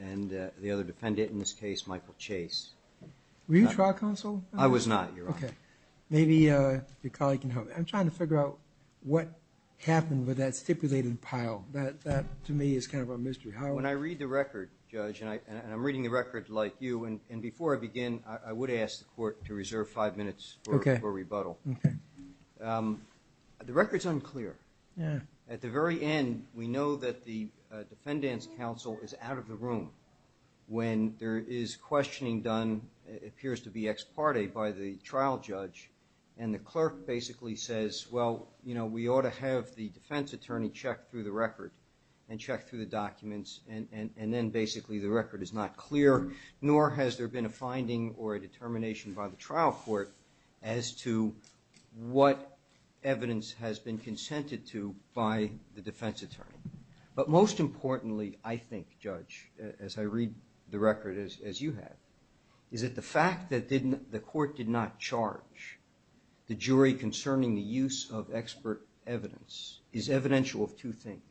and the other defendant, in this case, Michael Chase. Were you a trial counsel? I was not, Your Honor. Okay. Maybe your colleague can help. I'm trying to figure out what happened with that stipulated pile. That, to me, is kind of a mystery. When I read the record, Judge, and I'm reading the record like you, and before I begin, I would ask the Court to reserve five minutes for rebuttal. The record's unclear. At the very end, we know that the defendant's counsel is out of the room when there is questioning done, it appears to be ex parte, by the trial judge, and the clerk basically says, well, you know, we ought to have the defense attorney check through the record and check through the documents, and then basically the record is not clear, nor has there been a finding or a determination by the trial court as to what evidence has been consented to by the defense attorney. But most importantly, I think, Judge, as I read the record as you have, is that the fact that the court did not charge the jury concerning the use of expert evidence is evidential of two things.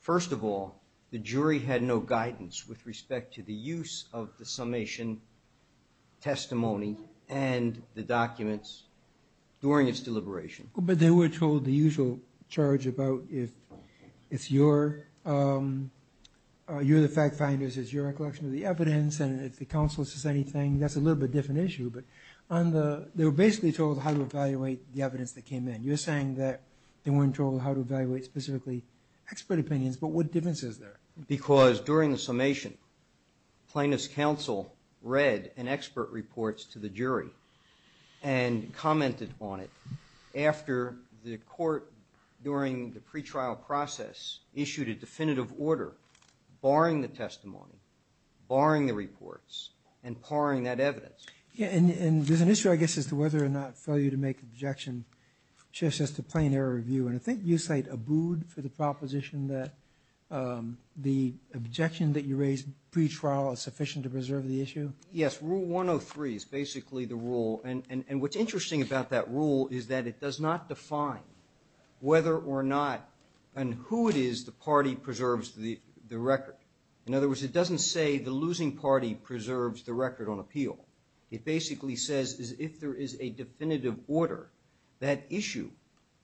First of all, the jury had no guidance with respect to the use of the summation testimony and the documents during its deliberation. But they were told the usual charge about if it's your, you're the fact finders, it's your recollection of the evidence, and if the counsel says anything, that's a little bit different issue. They were basically told how to evaluate the evidence that came in. You're saying that they weren't told how to evaluate specifically expert opinions, but what difference is there? Because during the summation, plaintiff's counsel read an expert report to the jury and commented on it after the court during the pretrial process issued a definitive order barring the testimony, barring the reports, and parring that evidence. Yeah, and there's an issue, I guess, as to whether or not failure to make objection shifts us to plain error review. And I think you cite Abood for the proposition that the objection that you raised pretrial is sufficient to preserve the issue. Yes, Rule 103 is basically the rule. And what's interesting about that rule is that it does not define whether or not and who it is the party preserves the record. In other words, it doesn't say the losing party preserves the record on appeal. It basically says if there is a definitive order, that issue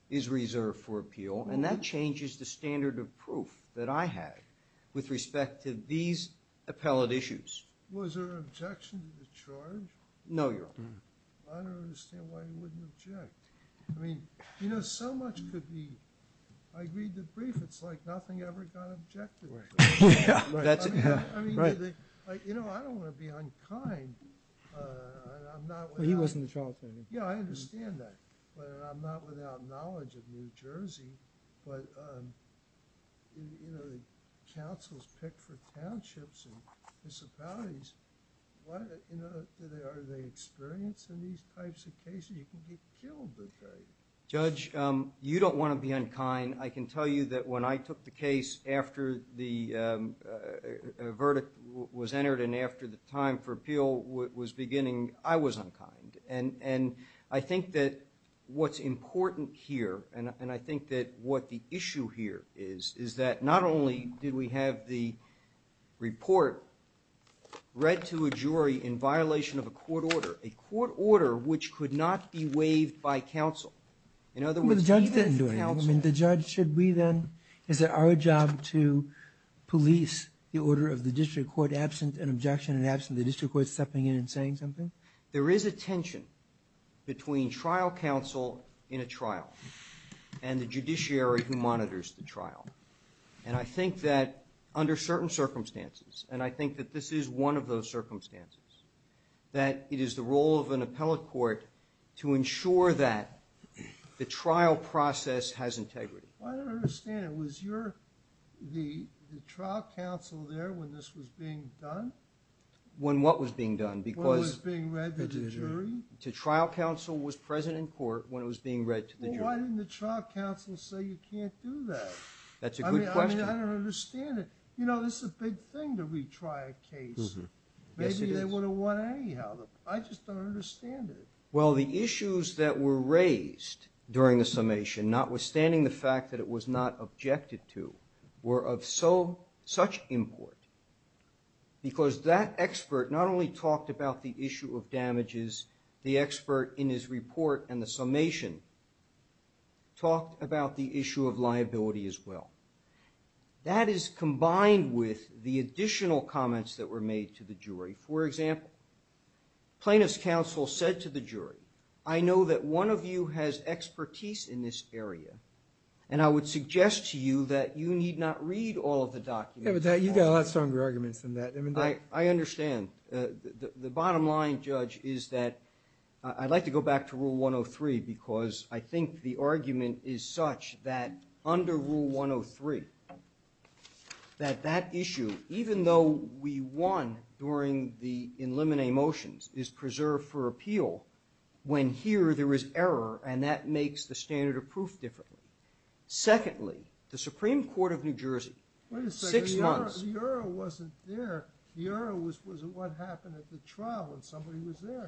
is reserved for appeal, and that changes the standard of proof that I have with respect to these appellate issues. Was there an objection to the charge? No, Your Honor. I don't understand why you wouldn't object. I mean, you know, so much could be agreed to brief. It's like nothing ever got objected. I mean, you know, I don't want to be unkind. Well, he wasn't the trial attorney. Yeah, I understand that. But I'm not without knowledge of New Jersey. But, you know, the councils pick for townships and municipalities. Are they experienced in these types of cases? You can get killed. Judge, you don't want to be unkind. I can tell you that when I took the case after the verdict was entered and after the time for appeal was beginning, I was unkind. And I think that what's important here, and I think that what the issue here is, is that not only did we have the report read to a jury in violation of a court order, a court order which could not be waived by counsel. In other words, even counsel. But Judge, should we then, is it our job to police the order of the district court absent an objection and absent the district court stepping in and saying something? There is a tension between trial counsel in a trial and the judiciary who monitors the trial. And I think that under certain circumstances, and I think that this is one of those circumstances, that it is the role of an appellate court to ensure that the trial process has integrity. I don't understand. Was the trial counsel there when this was being done? When what was being done? When it was being read to the jury? The trial counsel was present in court when it was being read to the jury. Well, why didn't the trial counsel say you can't do that? That's a good question. I mean, I don't understand it. You know, this is a big thing to retry a case. Maybe they would have won anyhow. I just don't understand it. Well, the issues that were raised during the summation, notwithstanding the fact that it was not objected to, were of such import because that expert not only talked about the issue of damages, the expert in his report and the summation talked about the issue of liability as well. That is combined with the additional comments that were made to the jury. For example, plaintiff's counsel said to the jury, I know that one of you has expertise in this area, and I would suggest to you that you need not read all of the documents. Yeah, but you've got a lot stronger arguments than that. I understand. The bottom line, Judge, is that I'd like to go back to Rule 103 because I think the argument is such that under Rule 103, that that issue, even though we won during the eliminate motions, is preserved for appeal when here there is error, and that makes the standard of proof differently. Secondly, the Supreme Court of New Jersey, six months— Wait a second. The error wasn't there. The error was what happened at the trial when somebody was there.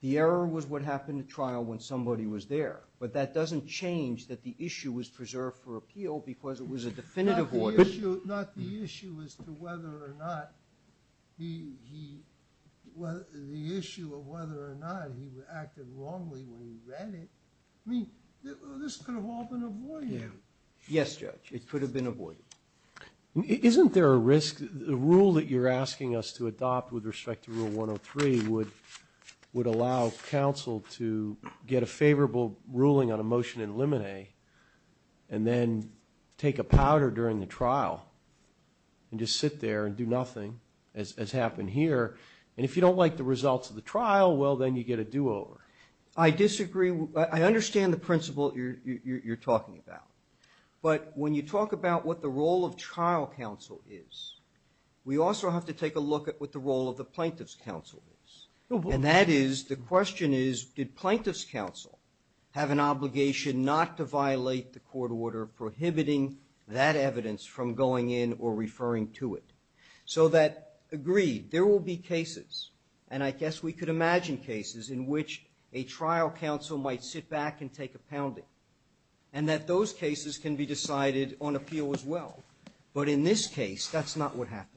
The error was what happened at trial when somebody was there, but that doesn't change that the issue was preserved for appeal because it was a definitive order. Not the issue as to whether or not he— the issue of whether or not he acted wrongly when he read it. I mean, this could have all been avoided. Yes, Judge, it could have been avoided. Isn't there a risk— that the rule that you're asking us to adopt with respect to Rule 103 would allow counsel to get a favorable ruling on a motion and eliminate and then take a powder during the trial and just sit there and do nothing as happened here? And if you don't like the results of the trial, well, then you get a do-over. I disagree. I understand the principle you're talking about, but when you talk about what the role of trial counsel is, we also have to take a look at what the role of the plaintiff's counsel is. And that is, the question is, did plaintiff's counsel have an obligation not to violate the court order prohibiting that evidence from going in or referring to it? So that, agreed, there will be cases, and I guess we could imagine cases in which a trial counsel might sit back and take a pounding, and that those cases can be decided on appeal as well. But in this case, that's not what happened.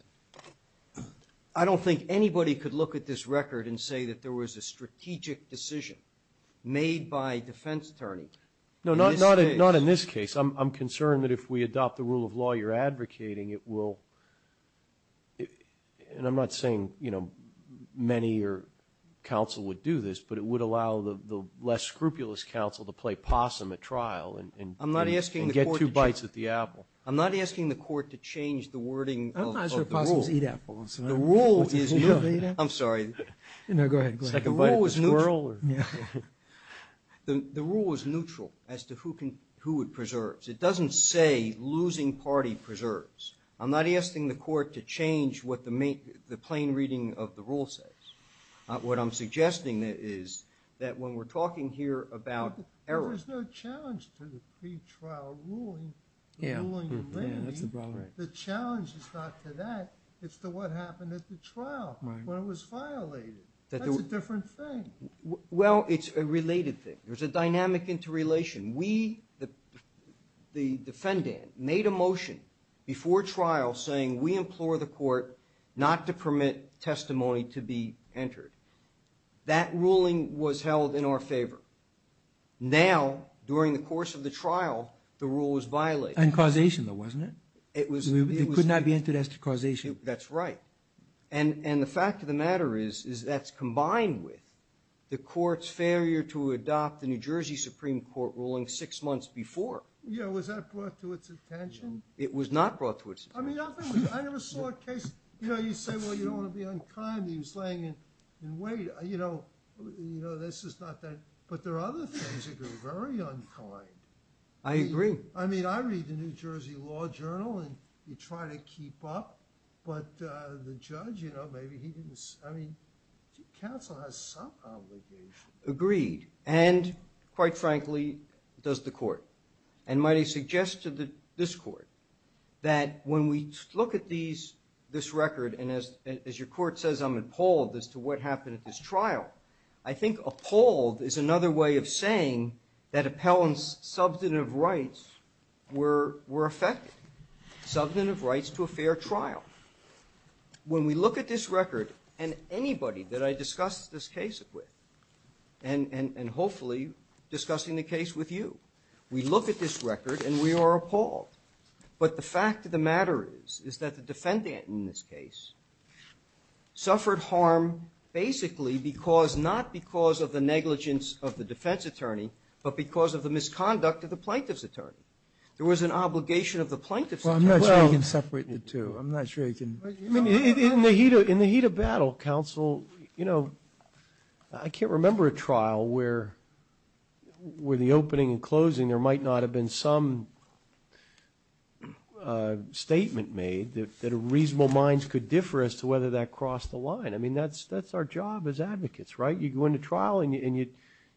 I don't think anybody could look at this record and say that there was a strategic decision made by a defense attorney. No, not in this case. I'm concerned that if we adopt the rule of law you're advocating, it will— and I'm not saying, you know, many counsel would do this, but it would allow the less scrupulous counsel to play possum at trial and— I'm not asking the court to change— And get two bites at the apple. I'm not asking the court to change the wording of the rule. I don't think possums eat apples. I'm sorry. No, go ahead. The rule is neutral as to who it preserves. It doesn't say losing party preserves. I'm not asking the court to change what the plain reading of the rule says. What I'm suggesting is that when we're talking here about error— There's no challenge to the pretrial ruling. Yeah, that's the problem. The challenge is not to that. It's to what happened at the trial when it was violated. That's a different thing. Well, it's a related thing. There's a dynamic interrelation. We, the defendant, made a motion before trial saying we implore the court not to permit testimony to be entered. That ruling was held in our favor. Now, during the course of the trial, the rule was violated. And causation, though, wasn't it? It was— It could not be entered as to causation. That's right. And the fact of the matter is that's combined with the court's failure to adopt the New Jersey Supreme Court ruling six months before. Yeah, was that brought to its attention? It was not brought to its attention. I mean, I never saw a case— You know, you say, well, you don't want to be unkind. He was laying in wait. You know, this is not that— But there are other things that are very unkind. I agree. I mean, I read the New Jersey Law Journal and you try to keep up. But the judge, you know, maybe he didn't— I mean, counsel has some obligation. Agreed. And, quite frankly, does the court. And might I suggest to this court that when we look at this record, and as your court says I'm appalled as to what happened at this trial, I think appalled is another way of saying that appellant's substantive rights were affected, substantive rights to a fair trial. When we look at this record, and anybody that I discussed this case with, and hopefully discussing the case with you, we look at this record and we are appalled. But the fact of the matter is, is that the defendant in this case suffered harm basically not because of the negligence of the defense attorney, but because of the misconduct of the plaintiff's attorney. There was an obligation of the plaintiff's attorney. Well, I'm not sure you can separate the two. I'm not sure you can— In the heat of battle, counsel, you know, I can't remember a trial where the opening and closing, there might not have been some statement made that reasonable minds could differ as to whether that crossed the line. I mean, that's our job as advocates, right? You go into trial and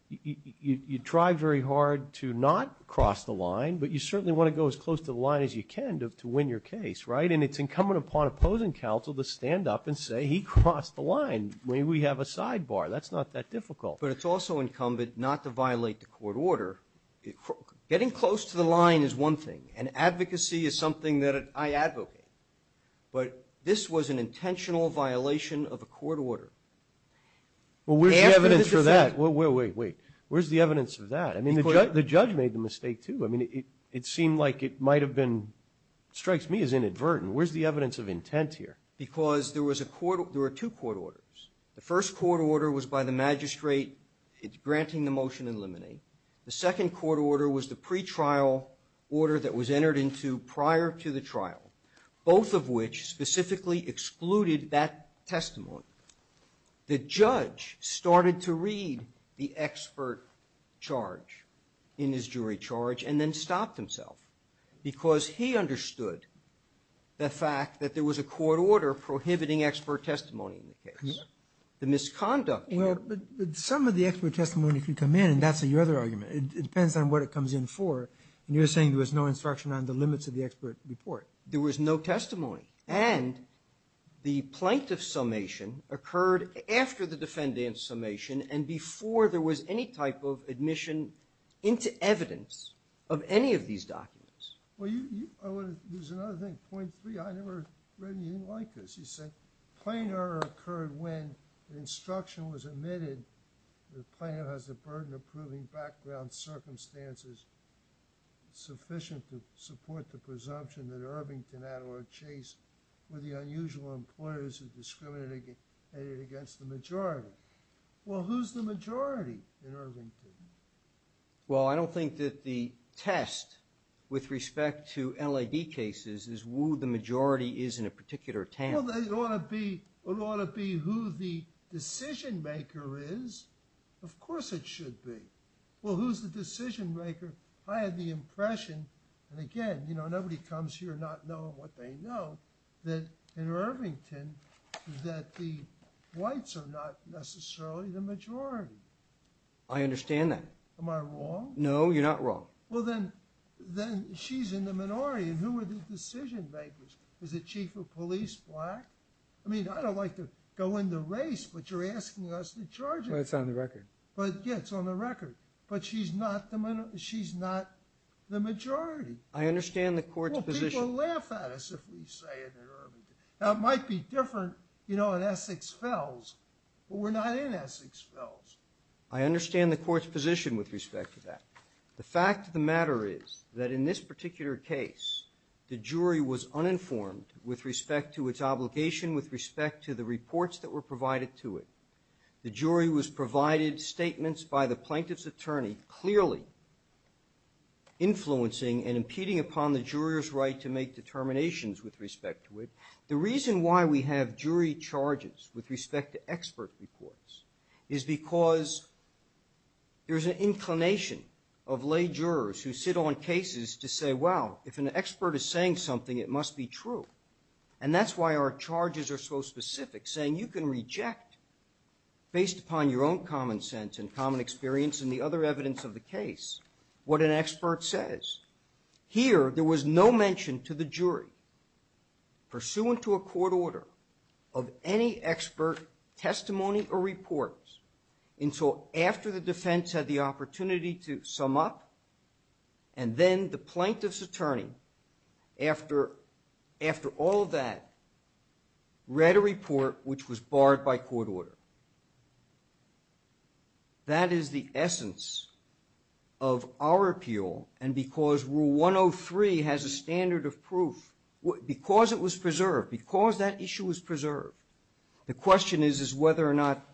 you try very hard to not cross the line, but you certainly want to go as close to the line as you can to win your case, right? And it's incumbent upon opposing counsel to stand up and say he crossed the line. Maybe we have a sidebar. That's not that difficult. But it's also incumbent not to violate the court order. Getting close to the line is one thing, and advocacy is something that I advocate. But this was an intentional violation of a court order. Well, where's the evidence for that? Wait, wait, wait. Where's the evidence for that? I mean, the judge made the mistake, too. I mean, it seemed like it might have been, strikes me as inadvertent. Where's the evidence of intent here? Because there was a court, there were two court orders. The first court order was by the magistrate granting the motion in limine. The second court order was the pretrial order that was entered into prior to the trial, both of which specifically excluded that testimony. The judge started to read the expert charge in his jury charge and then stopped himself, because he understood the fact that there was a court order prohibiting expert testimony in the case. The misconduct. Well, but some of the expert testimony could come in, and that's your other argument. It depends on what it comes in for. And you're saying there was no instruction on the limits of the expert report. There was no testimony. And the plaintiff's summation occurred after the defendant's summation and before there was any type of admission into evidence of any of these documents. Well, I want to use another thing. Point three, I never read anything like this. You said, plain error occurred when the instruction was omitted, the plaintiff has a burden of proving background circumstances sufficient to support the presumption that Irvington, Adler, Chase were the unusual employers who discriminated against the majority. Well, who's the majority in Irvington? Well, I don't think that the test with respect to LAD cases is who the majority is in a particular town. Well, it ought to be who the decision-maker is. Of course it should be. Well, who's the decision-maker? I had the impression, and again, you know, nobody comes here not knowing what they know, that in Irvington that the whites are not necessarily the majority. I understand that. Am I wrong? No, you're not wrong. Well, then she's in the minority. And who are the decision-makers? Is the chief of police black? I mean, I don't like to go into race, but you're asking us to charge it. Well, it's on the record. Yeah, it's on the record. But she's not the majority. I understand the court's position. Well, people laugh at us if we say it in Irvington. Now, it might be different, you know, in Essex Fells, but we're not in Essex Fells. I understand the court's position with respect to that. The fact of the matter is that in this particular case, the jury was uninformed with respect to its obligation with respect to the reports that were provided to it. The jury was provided statements by the plaintiff's attorney clearly influencing and impeding upon the juror's right to make determinations with respect to it. The reason why we have jury charges with respect to expert reports is because there's an inclination of lay jurors who sit on cases to say, well, if an expert is saying something, it must be true. And that's why our charges are so specific, saying you can reject, based upon your own common sense and common experience and the other evidence of the case, what an expert says. Here, there was no mention to the jury, pursuant to a court order, of any expert testimony or reports until after the defense had the opportunity to sum up and then the plaintiff's attorney, after all of that, read a report which was barred by court order. That is the essence of our appeal, and because Rule 103 has a standard of proof, because it was preserved, because that issue was preserved, the question is whether or not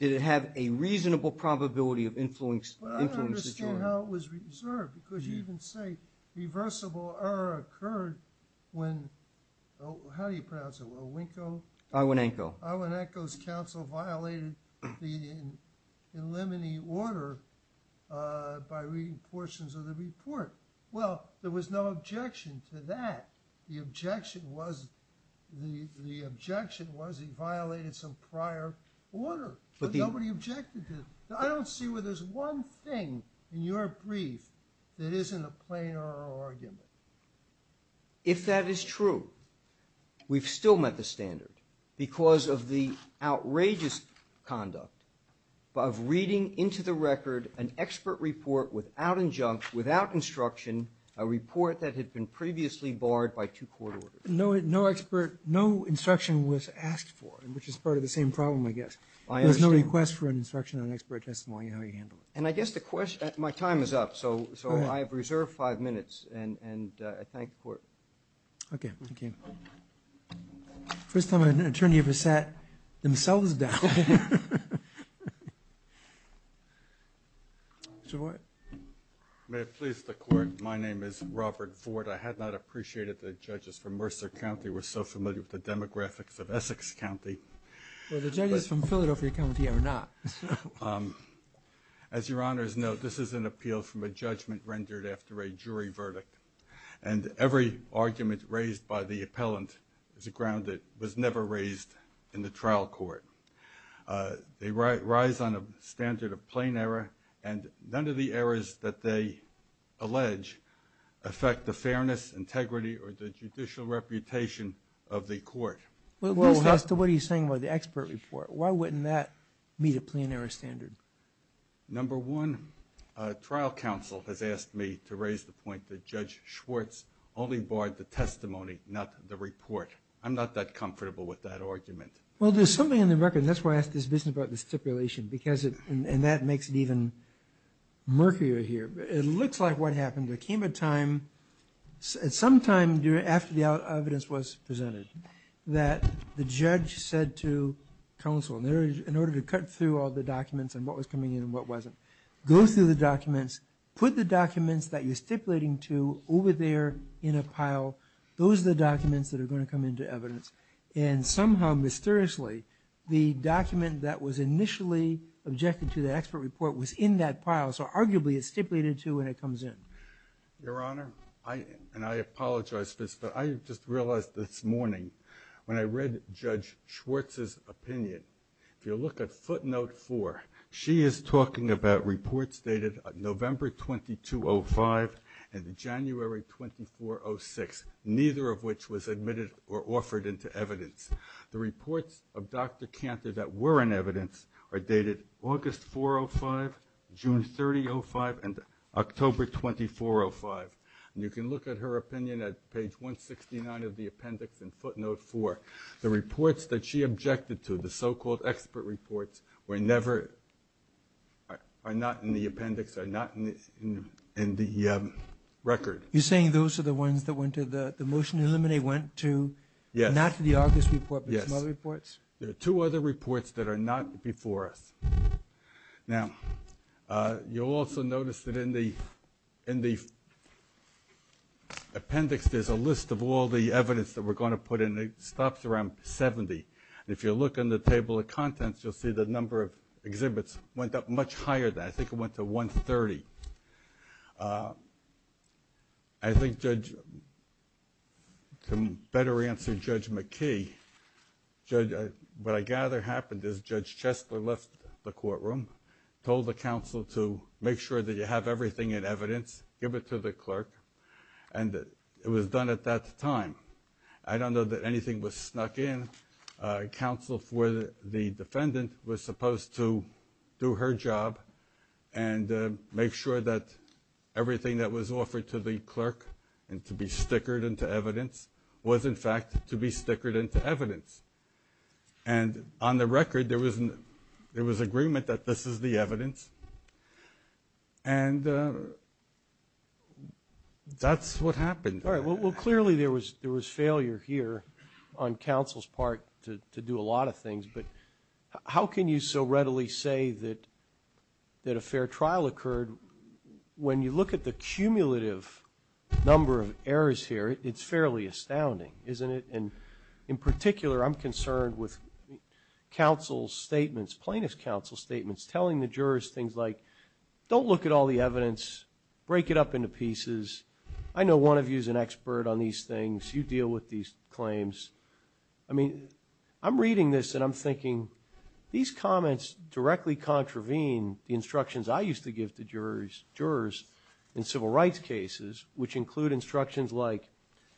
did it have a reasonable probability of influencing the jury. I don't know how it was preserved, because you even say reversible error occurred when, how do you pronounce it, when Winko? Iwanenko. Iwanenko's counsel violated the in limine order by reading portions of the report. Well, there was no objection to that. The objection was he violated some prior order, but nobody objected to it. I don't see where there's one thing in your brief that isn't a plain oral argument. If that is true, we've still met the standard because of the outrageous conduct of reading into the record an expert report without injunct, without instruction, a report that had been previously barred by two court orders. No expert, no instruction was asked for, which is part of the same problem, I guess. There's no request for an instruction on expert testimony, how you handle it. And I guess the question, my time is up, so I have reserved five minutes, and I thank the Court. Okay, thank you. First time an attorney ever sat themselves down. Mr. Boyd. May it please the Court, my name is Robert Ford. I had not appreciated that judges from Mercer County were so familiar with the demographics of Essex County. Well, the judges from Philadelphia County are not. As Your Honor's note, this is an appeal from a judgment rendered after a jury verdict, and every argument raised by the appellant is a ground that was never raised in the trial court. They rise on a standard of plain error, and none of the errors that they allege affect the fairness, integrity, or the judicial reputation of the Court. Well, as to what he's saying about the expert report, why wouldn't that meet a plain error standard? Number one, trial counsel has asked me to raise the point that Judge Schwartz only barred the testimony, not the report. I'm not that comfortable with that argument. Well, there's something in the record, and that's why I asked this business about the stipulation, and that makes it even murkier here. It looks like what happened, there came a time, sometime after the evidence was presented, that the judge said to counsel, in order to cut through all the documents and what was coming in and what wasn't, go through the documents, put the documents that you're stipulating to over there in a pile. Those are the documents that are going to come into evidence. And somehow, mysteriously, the document that was initially objected to, the expert report, was in that pile, so arguably it's stipulated to when it comes in. Your Honor, and I apologize for this, but I just realized this morning, when I read Judge Schwartz's opinion, if you look at footnote four, she is talking about reports dated November 2205 and January 2406, neither of which was admitted or offered into evidence. The reports of Dr. Cantor that were in evidence are dated August 405, June 3005, and October 2405. And you can look at her opinion at page 169 of the appendix in footnote four. The reports that she objected to, the so-called expert reports, are not in the appendix, are not in the record. You're saying those are the ones that went to, the motion to eliminate went to, not to the August report, but to other reports? Yes. There are two other reports that are not before us. Now, you'll also notice that in the appendix, there's a list of all the evidence that we're going to put in. It stops around 70. And if you look on the table of contents, you'll see the number of exhibits went up much higher than that. I think it went to 130. I think Judge, to better answer Judge McKee, what I gather happened is Judge Chesler left the courtroom, told the counsel to make sure that you have everything in evidence, give it to the clerk, and it was done at that time. I don't know that anything was snuck in. Counsel for the defendant was supposed to do her job and make sure that everything that was offered to the clerk and to be stickered into evidence was, in fact, to be stickered into evidence. And on the record, there was agreement that this is the evidence. And that's what happened. All right, well, clearly there was failure here on counsel's part to do a lot of things. But how can you so readily say that a fair trial occurred? When you look at the cumulative number of errors here, it's fairly astounding, isn't it? And in particular, I'm concerned with counsel's statements, plaintiff's counsel's statements, telling the jurors things like, don't look at all the evidence, break it up into pieces. I know one of you is an expert on these things. You deal with these claims. I mean, I'm reading this and I'm thinking, these comments directly contravene the instructions I used to give to jurors in civil rights cases, which include instructions like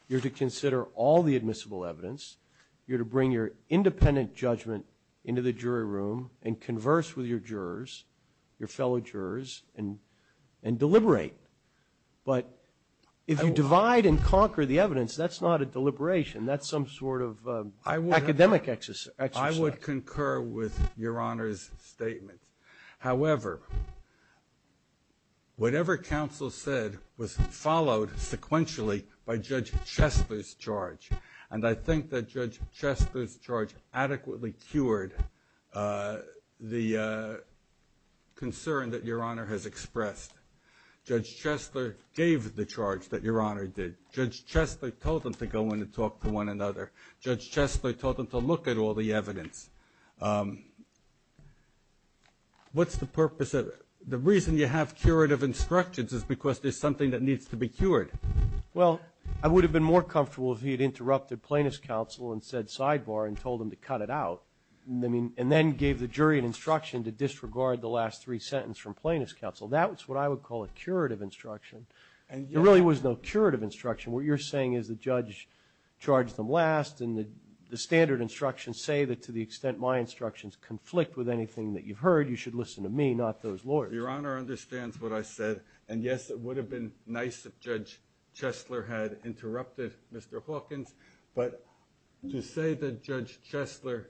you're to consider all the admissible evidence, you're to bring your independent judgment into the jury room and converse with your jurors, your fellow jurors, and deliberate. But if you divide and conquer the evidence, that's not a deliberation. That's some sort of academic exercise. I would concur with Your Honor's statement. However, whatever counsel said was followed sequentially by Judge Chesler's charge. And I think that Judge Chesler's charge adequately cured the concern that Your Honor has expressed. Judge Chesler gave the charge that Your Honor did. Judge Chesler told them to go in and talk to one another. Judge Chesler told them to look at all the evidence. What's the purpose of it? The reason you have curative instructions is because there's something that needs to be cured. Well, I would have been more comfortable if he had interrupted plaintiff's counsel and said sidebar and told them to cut it out and then gave the jury an instruction to disregard the last three sentences from plaintiff's counsel. That's what I would call a curative instruction. There really was no curative instruction. What you're saying is the judge charged them last and the standard instructions say that to the extent my instructions conflict with anything that you've heard, you should listen to me, not those lawyers. Your Honor understands what I said. And yes, it would have been nice if Judge Chesler had interrupted Mr. Hawkins. But to say that Judge Chesler,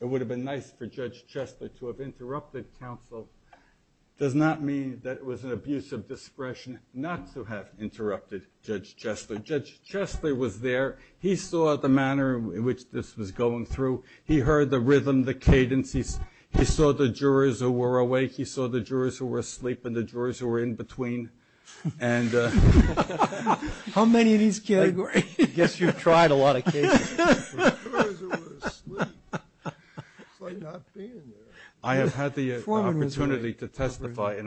it would have been nice for Judge Chesler to have interrupted counsel does not mean that it was an abuse of discretion not to have interrupted Judge Chesler. Judge Chesler was there. He saw the manner in which this was going through. He heard the rhythm, the cadence. He saw the jurors who were awake. He saw the jurors who were asleep and the jurors who were in between. How many of these categories? I guess you've tried a lot of cases. The jurors who were asleep. It's like not being there. I have had the opportunity to testify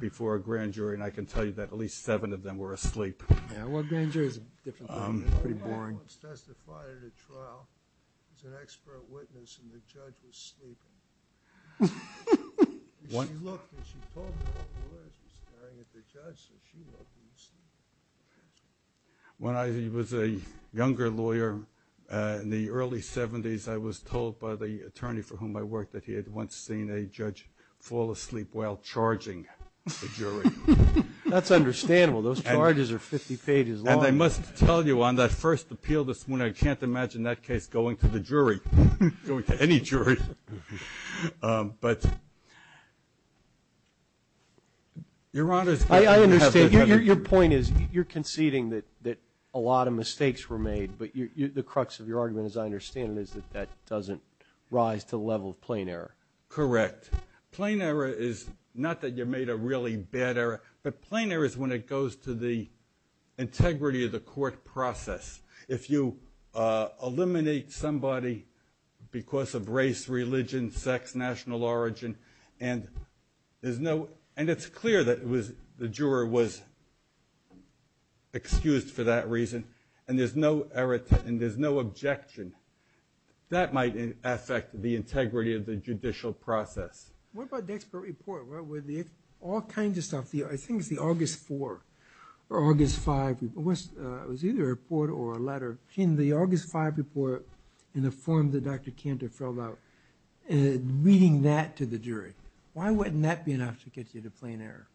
before a grand jury, and I can tell you that at least seven of them were asleep. Well, a grand jury is a different thing. It's pretty boring. I once testified at a trial as an expert witness, and the judge was sleeping. She looked and she told me all the lawyers were staring at the judge, so she looked and was sleeping. When I was a younger lawyer in the early 70s, I was told by the attorney for whom I worked that he had once seen a judge fall asleep while charging the jury. That's understandable. Those charges are 50 pages long. And I must tell you, on that first appeal this morning, I can't imagine that case going to the jury, going to any jury. But your Honor is going to have to have a jury. I understand. Your point is you're conceding that a lot of mistakes were made, but the crux of your argument, as I understand it, is that that doesn't rise to the level of plain error. Correct. Plain error is not that you made a really bad error, but plain error is when it goes to the integrity of the court process. If you eliminate somebody because of race, religion, sex, national origin, and it's clear that the juror was excused for that reason, and there's no objection, that might affect the integrity of the judicial process. What about the expert report? All kinds of stuff. I think it's the August 4 or August 5 report. It was either a report or a letter. In the August 5 report, in the form that Dr. Cantor filled out, reading that to the jury, why wouldn't that be enough to get you to plain error?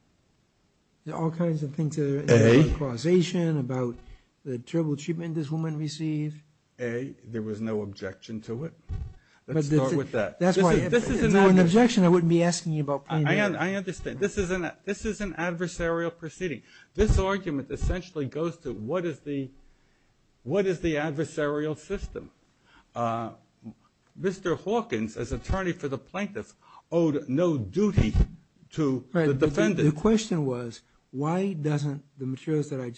There are all kinds of things there. A. About causation, about the terrible treatment this woman received. A. There was no objection to it. Let's start with that. If there was an objection, I wouldn't be asking you about plain error. I understand. This is an adversarial proceeding. This argument essentially goes to what is the adversarial system. Mr. Hawkins, as attorney for the plaintiffs, owed no duty to the defendant. The question was, why don't the materials that I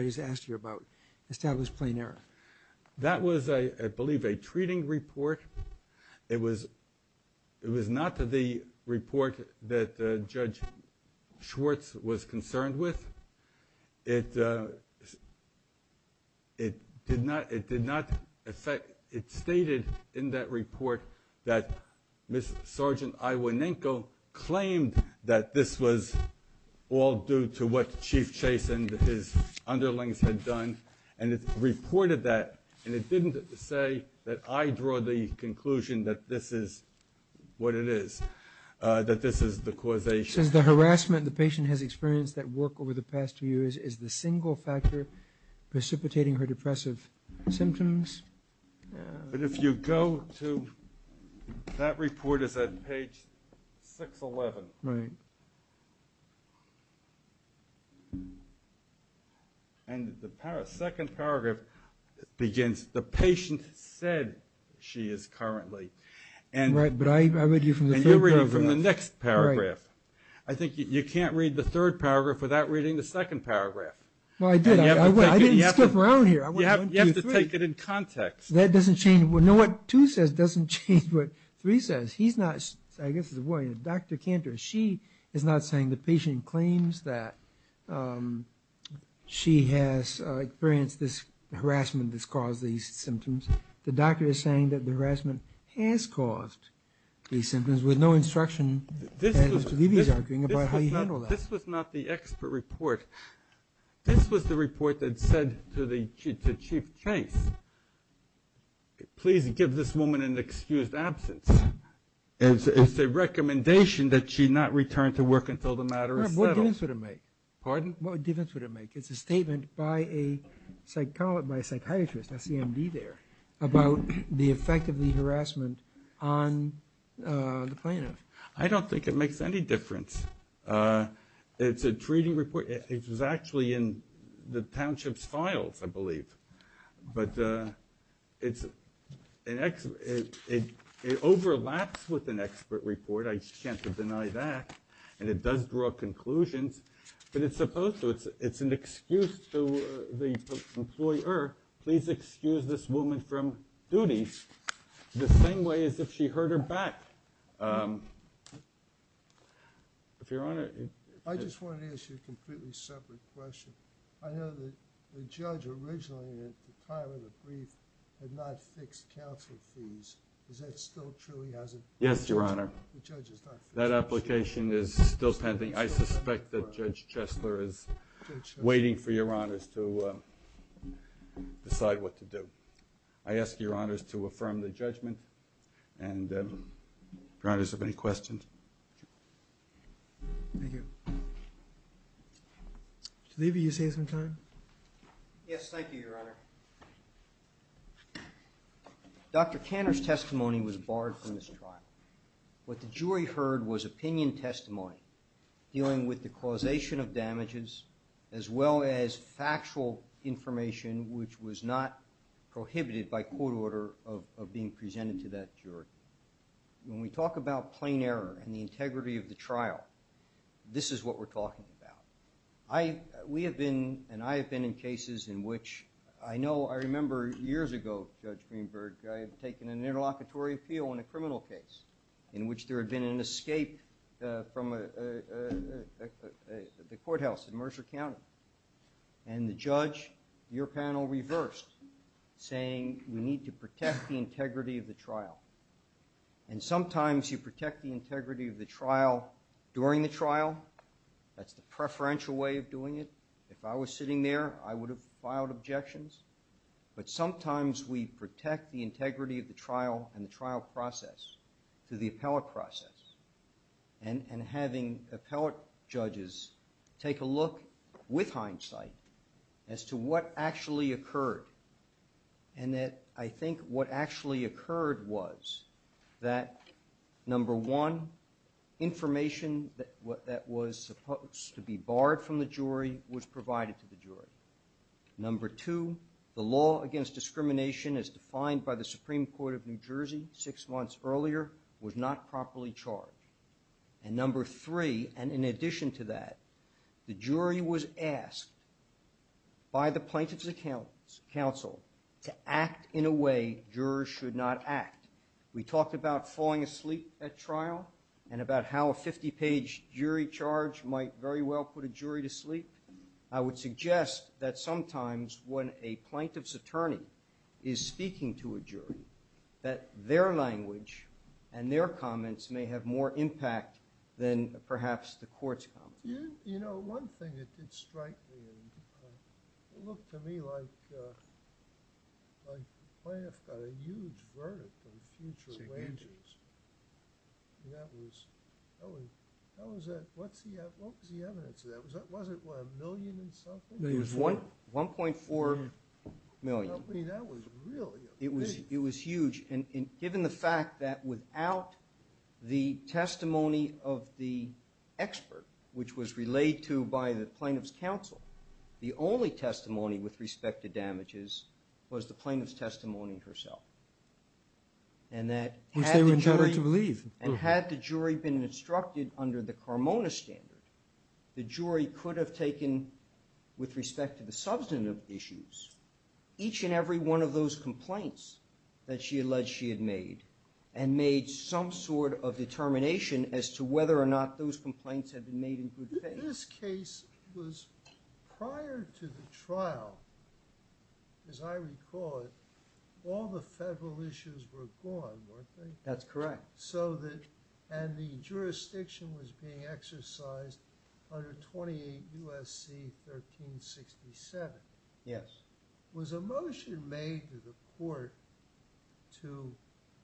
just asked you about establish plain error? That was, I believe, a treating report. It was not the report that Judge Schwartz was concerned with. It stated in that report that Ms. Sergeant Iwanenko claimed that this was all due to what Chief Chase and his underlings had done, and it reported that, and it didn't say that I draw the conclusion that this is what it is, that this is the causation. It says the harassment the patient has experienced at work over the past two years is the single factor precipitating her depressive symptoms. But if you go to, that report is at page 611. Right. And the second paragraph begins, the patient said she is currently. Right, but I read you from the third paragraph. Right. I think you can't read the third paragraph without reading the second paragraph. Well, I did. I didn't skip around here. You have to take it in context. That doesn't change. You know what two says doesn't change what three says. He's not, I guess, Dr. Cantor. She is not saying the patient claims that she has experienced this harassment that's caused these symptoms. The doctor is saying that the harassment has caused these symptoms with no instruction, as Mr. Levy is arguing, about how you handle that. This was not the expert report. This was the report that said to the chief case, please give this woman an excused absence. It's a recommendation that she not return to work until the matter is settled. What difference would it make? Pardon? What difference would it make? It's a statement by a psychiatrist, a CMD there, about the effect of the harassment on the plaintiff. I don't think it makes any difference. It's a treating report. It was actually in the township's files, I believe. But it overlaps with an expert report. I can't deny that. And it does draw conclusions. But it's supposed to. It's an excuse to the employer, please excuse this woman from duties, the same way as if she heard her back. Your Honor? I just wanted to ask you a completely separate question. I know that the judge originally, at the time of the brief, had not fixed counsel fees. Is that still true? He hasn't? Yes, Your Honor. The judge has not fixed counsel fees? That application is still pending. I suspect that Judge Chesler is waiting for Your Honors to decide what to do. I ask Your Honors to affirm the judgment. And Your Honors, if you have any questions. Thank you. Mr. Levy, you have some time? Yes, thank you, Your Honor. Dr. Tanner's testimony was barred from this trial. What the jury heard was opinion testimony dealing with the causation of damages as well as factual information, which was not prohibited by court order of being presented to that jury. When we talk about plain error and the integrity of the trial, this is what we're talking about. We have been and I have been in cases in which I know I remember years ago, Judge Greenberg, I had taken an interlocutory appeal in a criminal case in which there had been an escape from the courthouse in Mercer County. And the judge, your panel, reversed, saying we need to protect the integrity of the trial. And sometimes you protect the integrity of the trial during the trial. That's the preferential way of doing it. If I was sitting there, I would have filed objections. But sometimes we protect the integrity of the trial and the trial process through the appellate process and having appellate judges take a look with hindsight as to what actually occurred. And that I think what actually occurred was that, number one, information that was supposed to be barred from the jury was provided to the jury. Number two, the law against discrimination as defined by the Supreme Court of New Jersey six months earlier was not properly charged. And number three, and in addition to that, the jury was asked by the plaintiff's counsel to act in a way jurors should not act. We talked about falling asleep at trial and about how a 50-page jury charge might very well put a jury to sleep. I would suggest that sometimes when a plaintiff's attorney is speaking to a jury, that their language and their comments may have more impact than perhaps the court's comments. You know, one thing that did strike me, it looked to me like the plaintiff got a huge verdict on future wages. What was the evidence of that? Was it a million and something? It was 1.4 million. I mean, that was really big. It was huge. And given the fact that without the testimony of the expert, which was relayed to by the plaintiff's counsel, the only testimony with respect to damages was the plaintiff's testimony herself, and that had the jury been instructed under the Carmona standard, the jury could have taken, with respect to the substantive issues, each and every one of those complaints that she alleged she had made and made some sort of determination as to whether or not those complaints had been made in good faith. This case was, prior to the trial, as I recall it, all the federal issues were gone, weren't they? That's correct. And the jurisdiction was being exercised under 28 U.S.C. 1367. Yes. Was a motion made to the court to,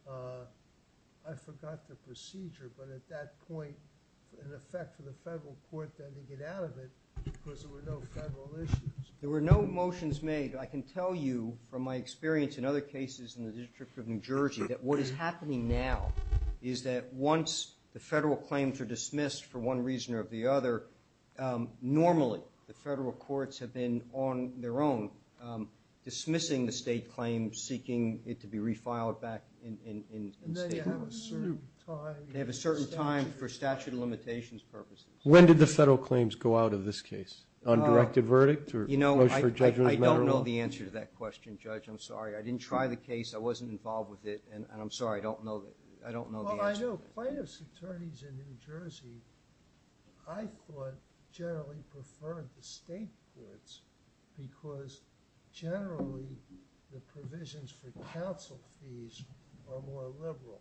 I forgot the procedure, but at that point, in effect, for the federal court then to get out of it because there were no federal issues? There were no motions made. I can tell you, from my experience in other cases in the District of New Jersey, that what is happening now is that once the federal claims are dismissed for one reason or the other, normally the federal courts have been on their own dismissing the state claim, seeking it to be refiled back in state court. And they have a certain time. They have a certain time for statute of limitations purposes. When did the federal claims go out of this case? On directed verdict? You know, I don't know the answer to that question, Judge. I'm sorry. I didn't try the case. I wasn't involved with it. And I'm sorry, I don't know the answer. Well, I know plaintiff's attorneys in New Jersey, I thought, generally preferred the state courts because generally the provisions for counsel fees are more liberal.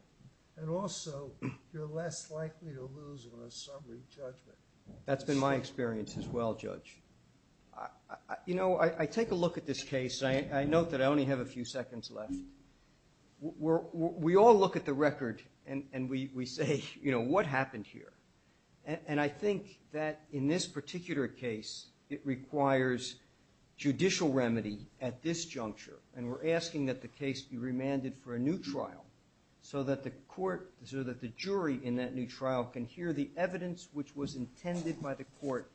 And also, you're less likely to lose on a summary judgment. That's been my experience as well, Judge. You know, I take a look at this case. I note that I only have a few seconds left. We all look at the record and we say, you know, what happened here? And I think that in this particular case, it requires judicial remedy at this juncture. And we're asking that the case be remanded for a new trial so that the court, so that the jury in that new trial can hear the evidence which was intended by the court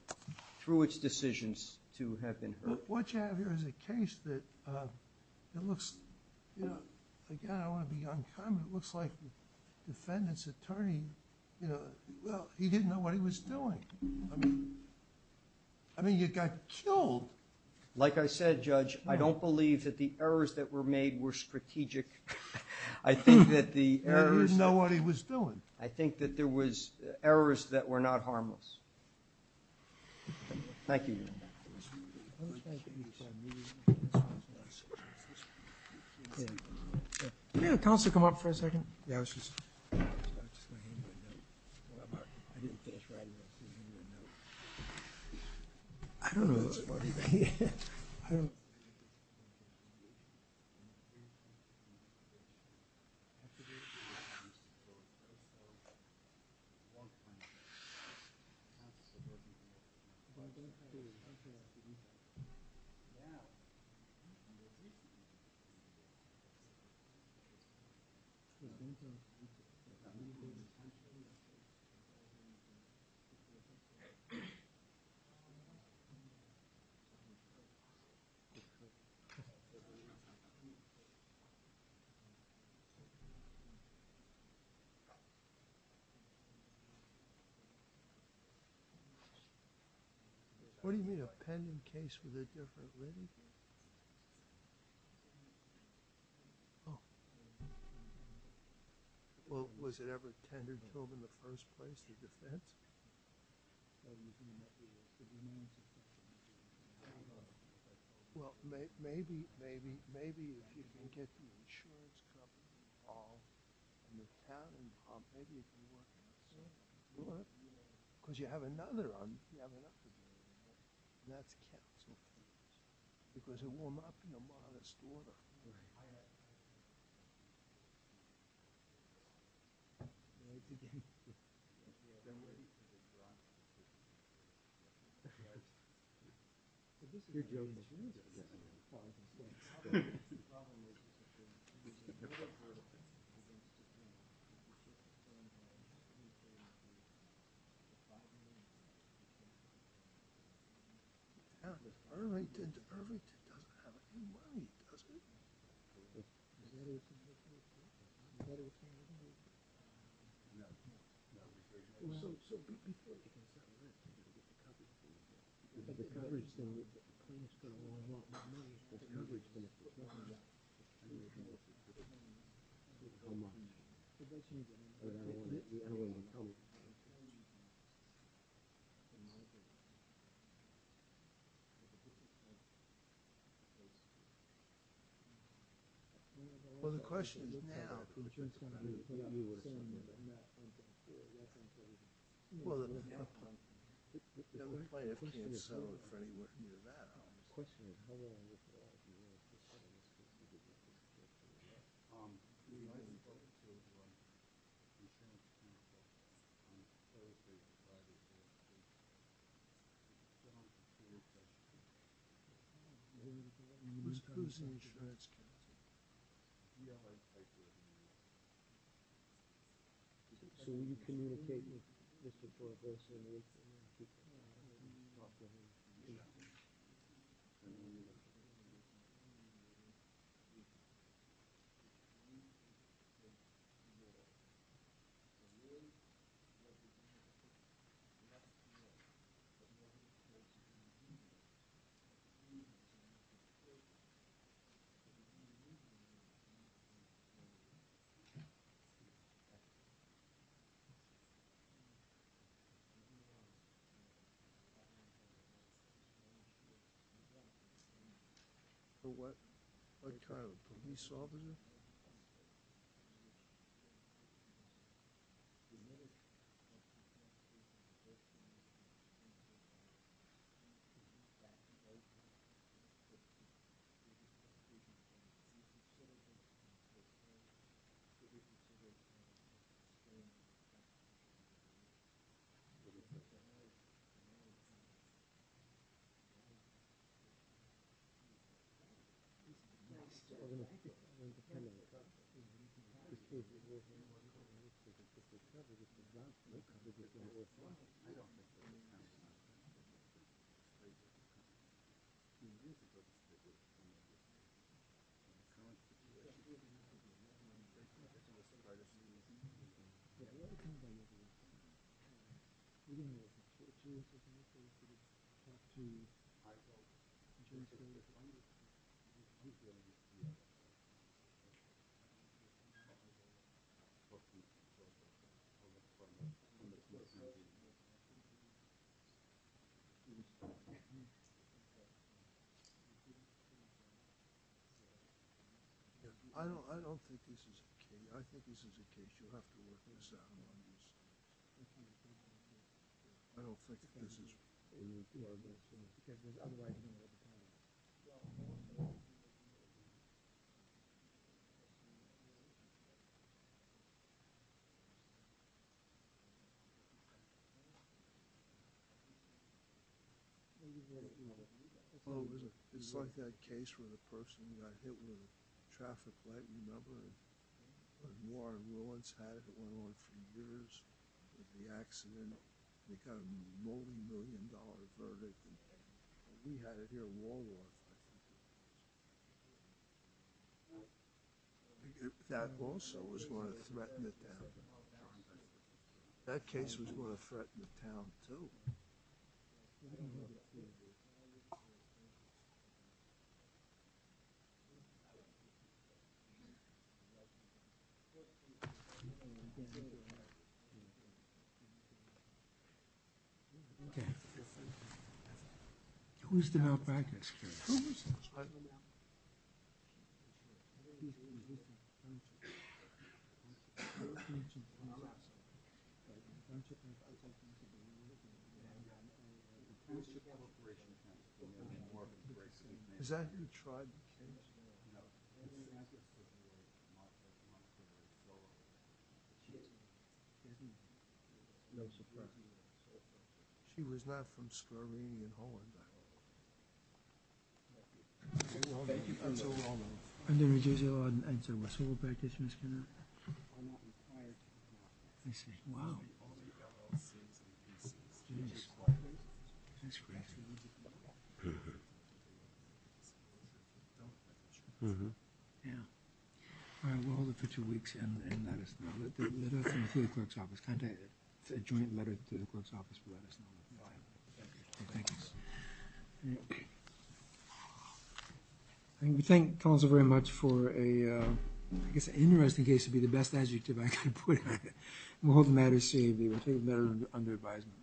through its decisions to have been heard. What you have here is a case that looks, you know, again, I want to be uncommon, it looks like the defendant's attorney, you know, well, he didn't know what he was doing. I mean, you got killed. Like I said, Judge, I don't believe that the errors that were made were strategic. I think that the errors... He didn't know what he was doing. I think that there was errors that were not harmless. Thank you. May the counsel come up for a second? Yeah, I was just... I don't know... Actually, I can't support this. I won't find a way. I have to support it. But I have to... Yeah. I'm with you. Thank you. Thank you. Thank you. What do you mean, a pending case with a different written case? Oh. Well, was it ever tended to him in the first place, the defense? What do you mean by that? Well, maybe if you can get the insurance company involved and the town involved, maybe it can work out somehow. It could work. Because you have another... You have another... And that's counsel. Because it will not be a modest order. Right. Thank you. Thank you. Thank you. Thank you. Thank you. Well, the question is now... Well, the... I'm afraid I can't settle it for anyone near that, obviously. The question is, how will I resolve it? Who's the insurance counsel? Yeah. So will you communicate with Mr. Borges and... Okay. So what kind of a police officer? I don't know. Yeah. Yeah. Yeah. Yeah. Yeah. Yeah. Sleep. Okay. Sleep. Okay. I don't think this is the case. I think this is the case. You'll have to work this out. I don't think this is... I don't think this is the case. It's like that case where the person got hit with a traffic light. You remember? Warren Willens had it. It went on for years. The accident. They got a multimillion dollar verdict. We had it here in World War II. That also was going to threaten the town. That case was going to threaten the town, too. Who's to help back this case? Is that who tried the case? No. No surprise. She was not from Slovenian Holland. Thank you. Wow. That's crazy. Yeah. All right, we'll hold it for two weeks and let us know. Let us know through the clerk's office. Contact a joint letter to the clerk's office and let us know. Thank you. Thank you. Okay. We thank Collins very much for a... I guess an interesting case would be the best adjective I could put. We'll hold the matter safe. We'll take it under advisement.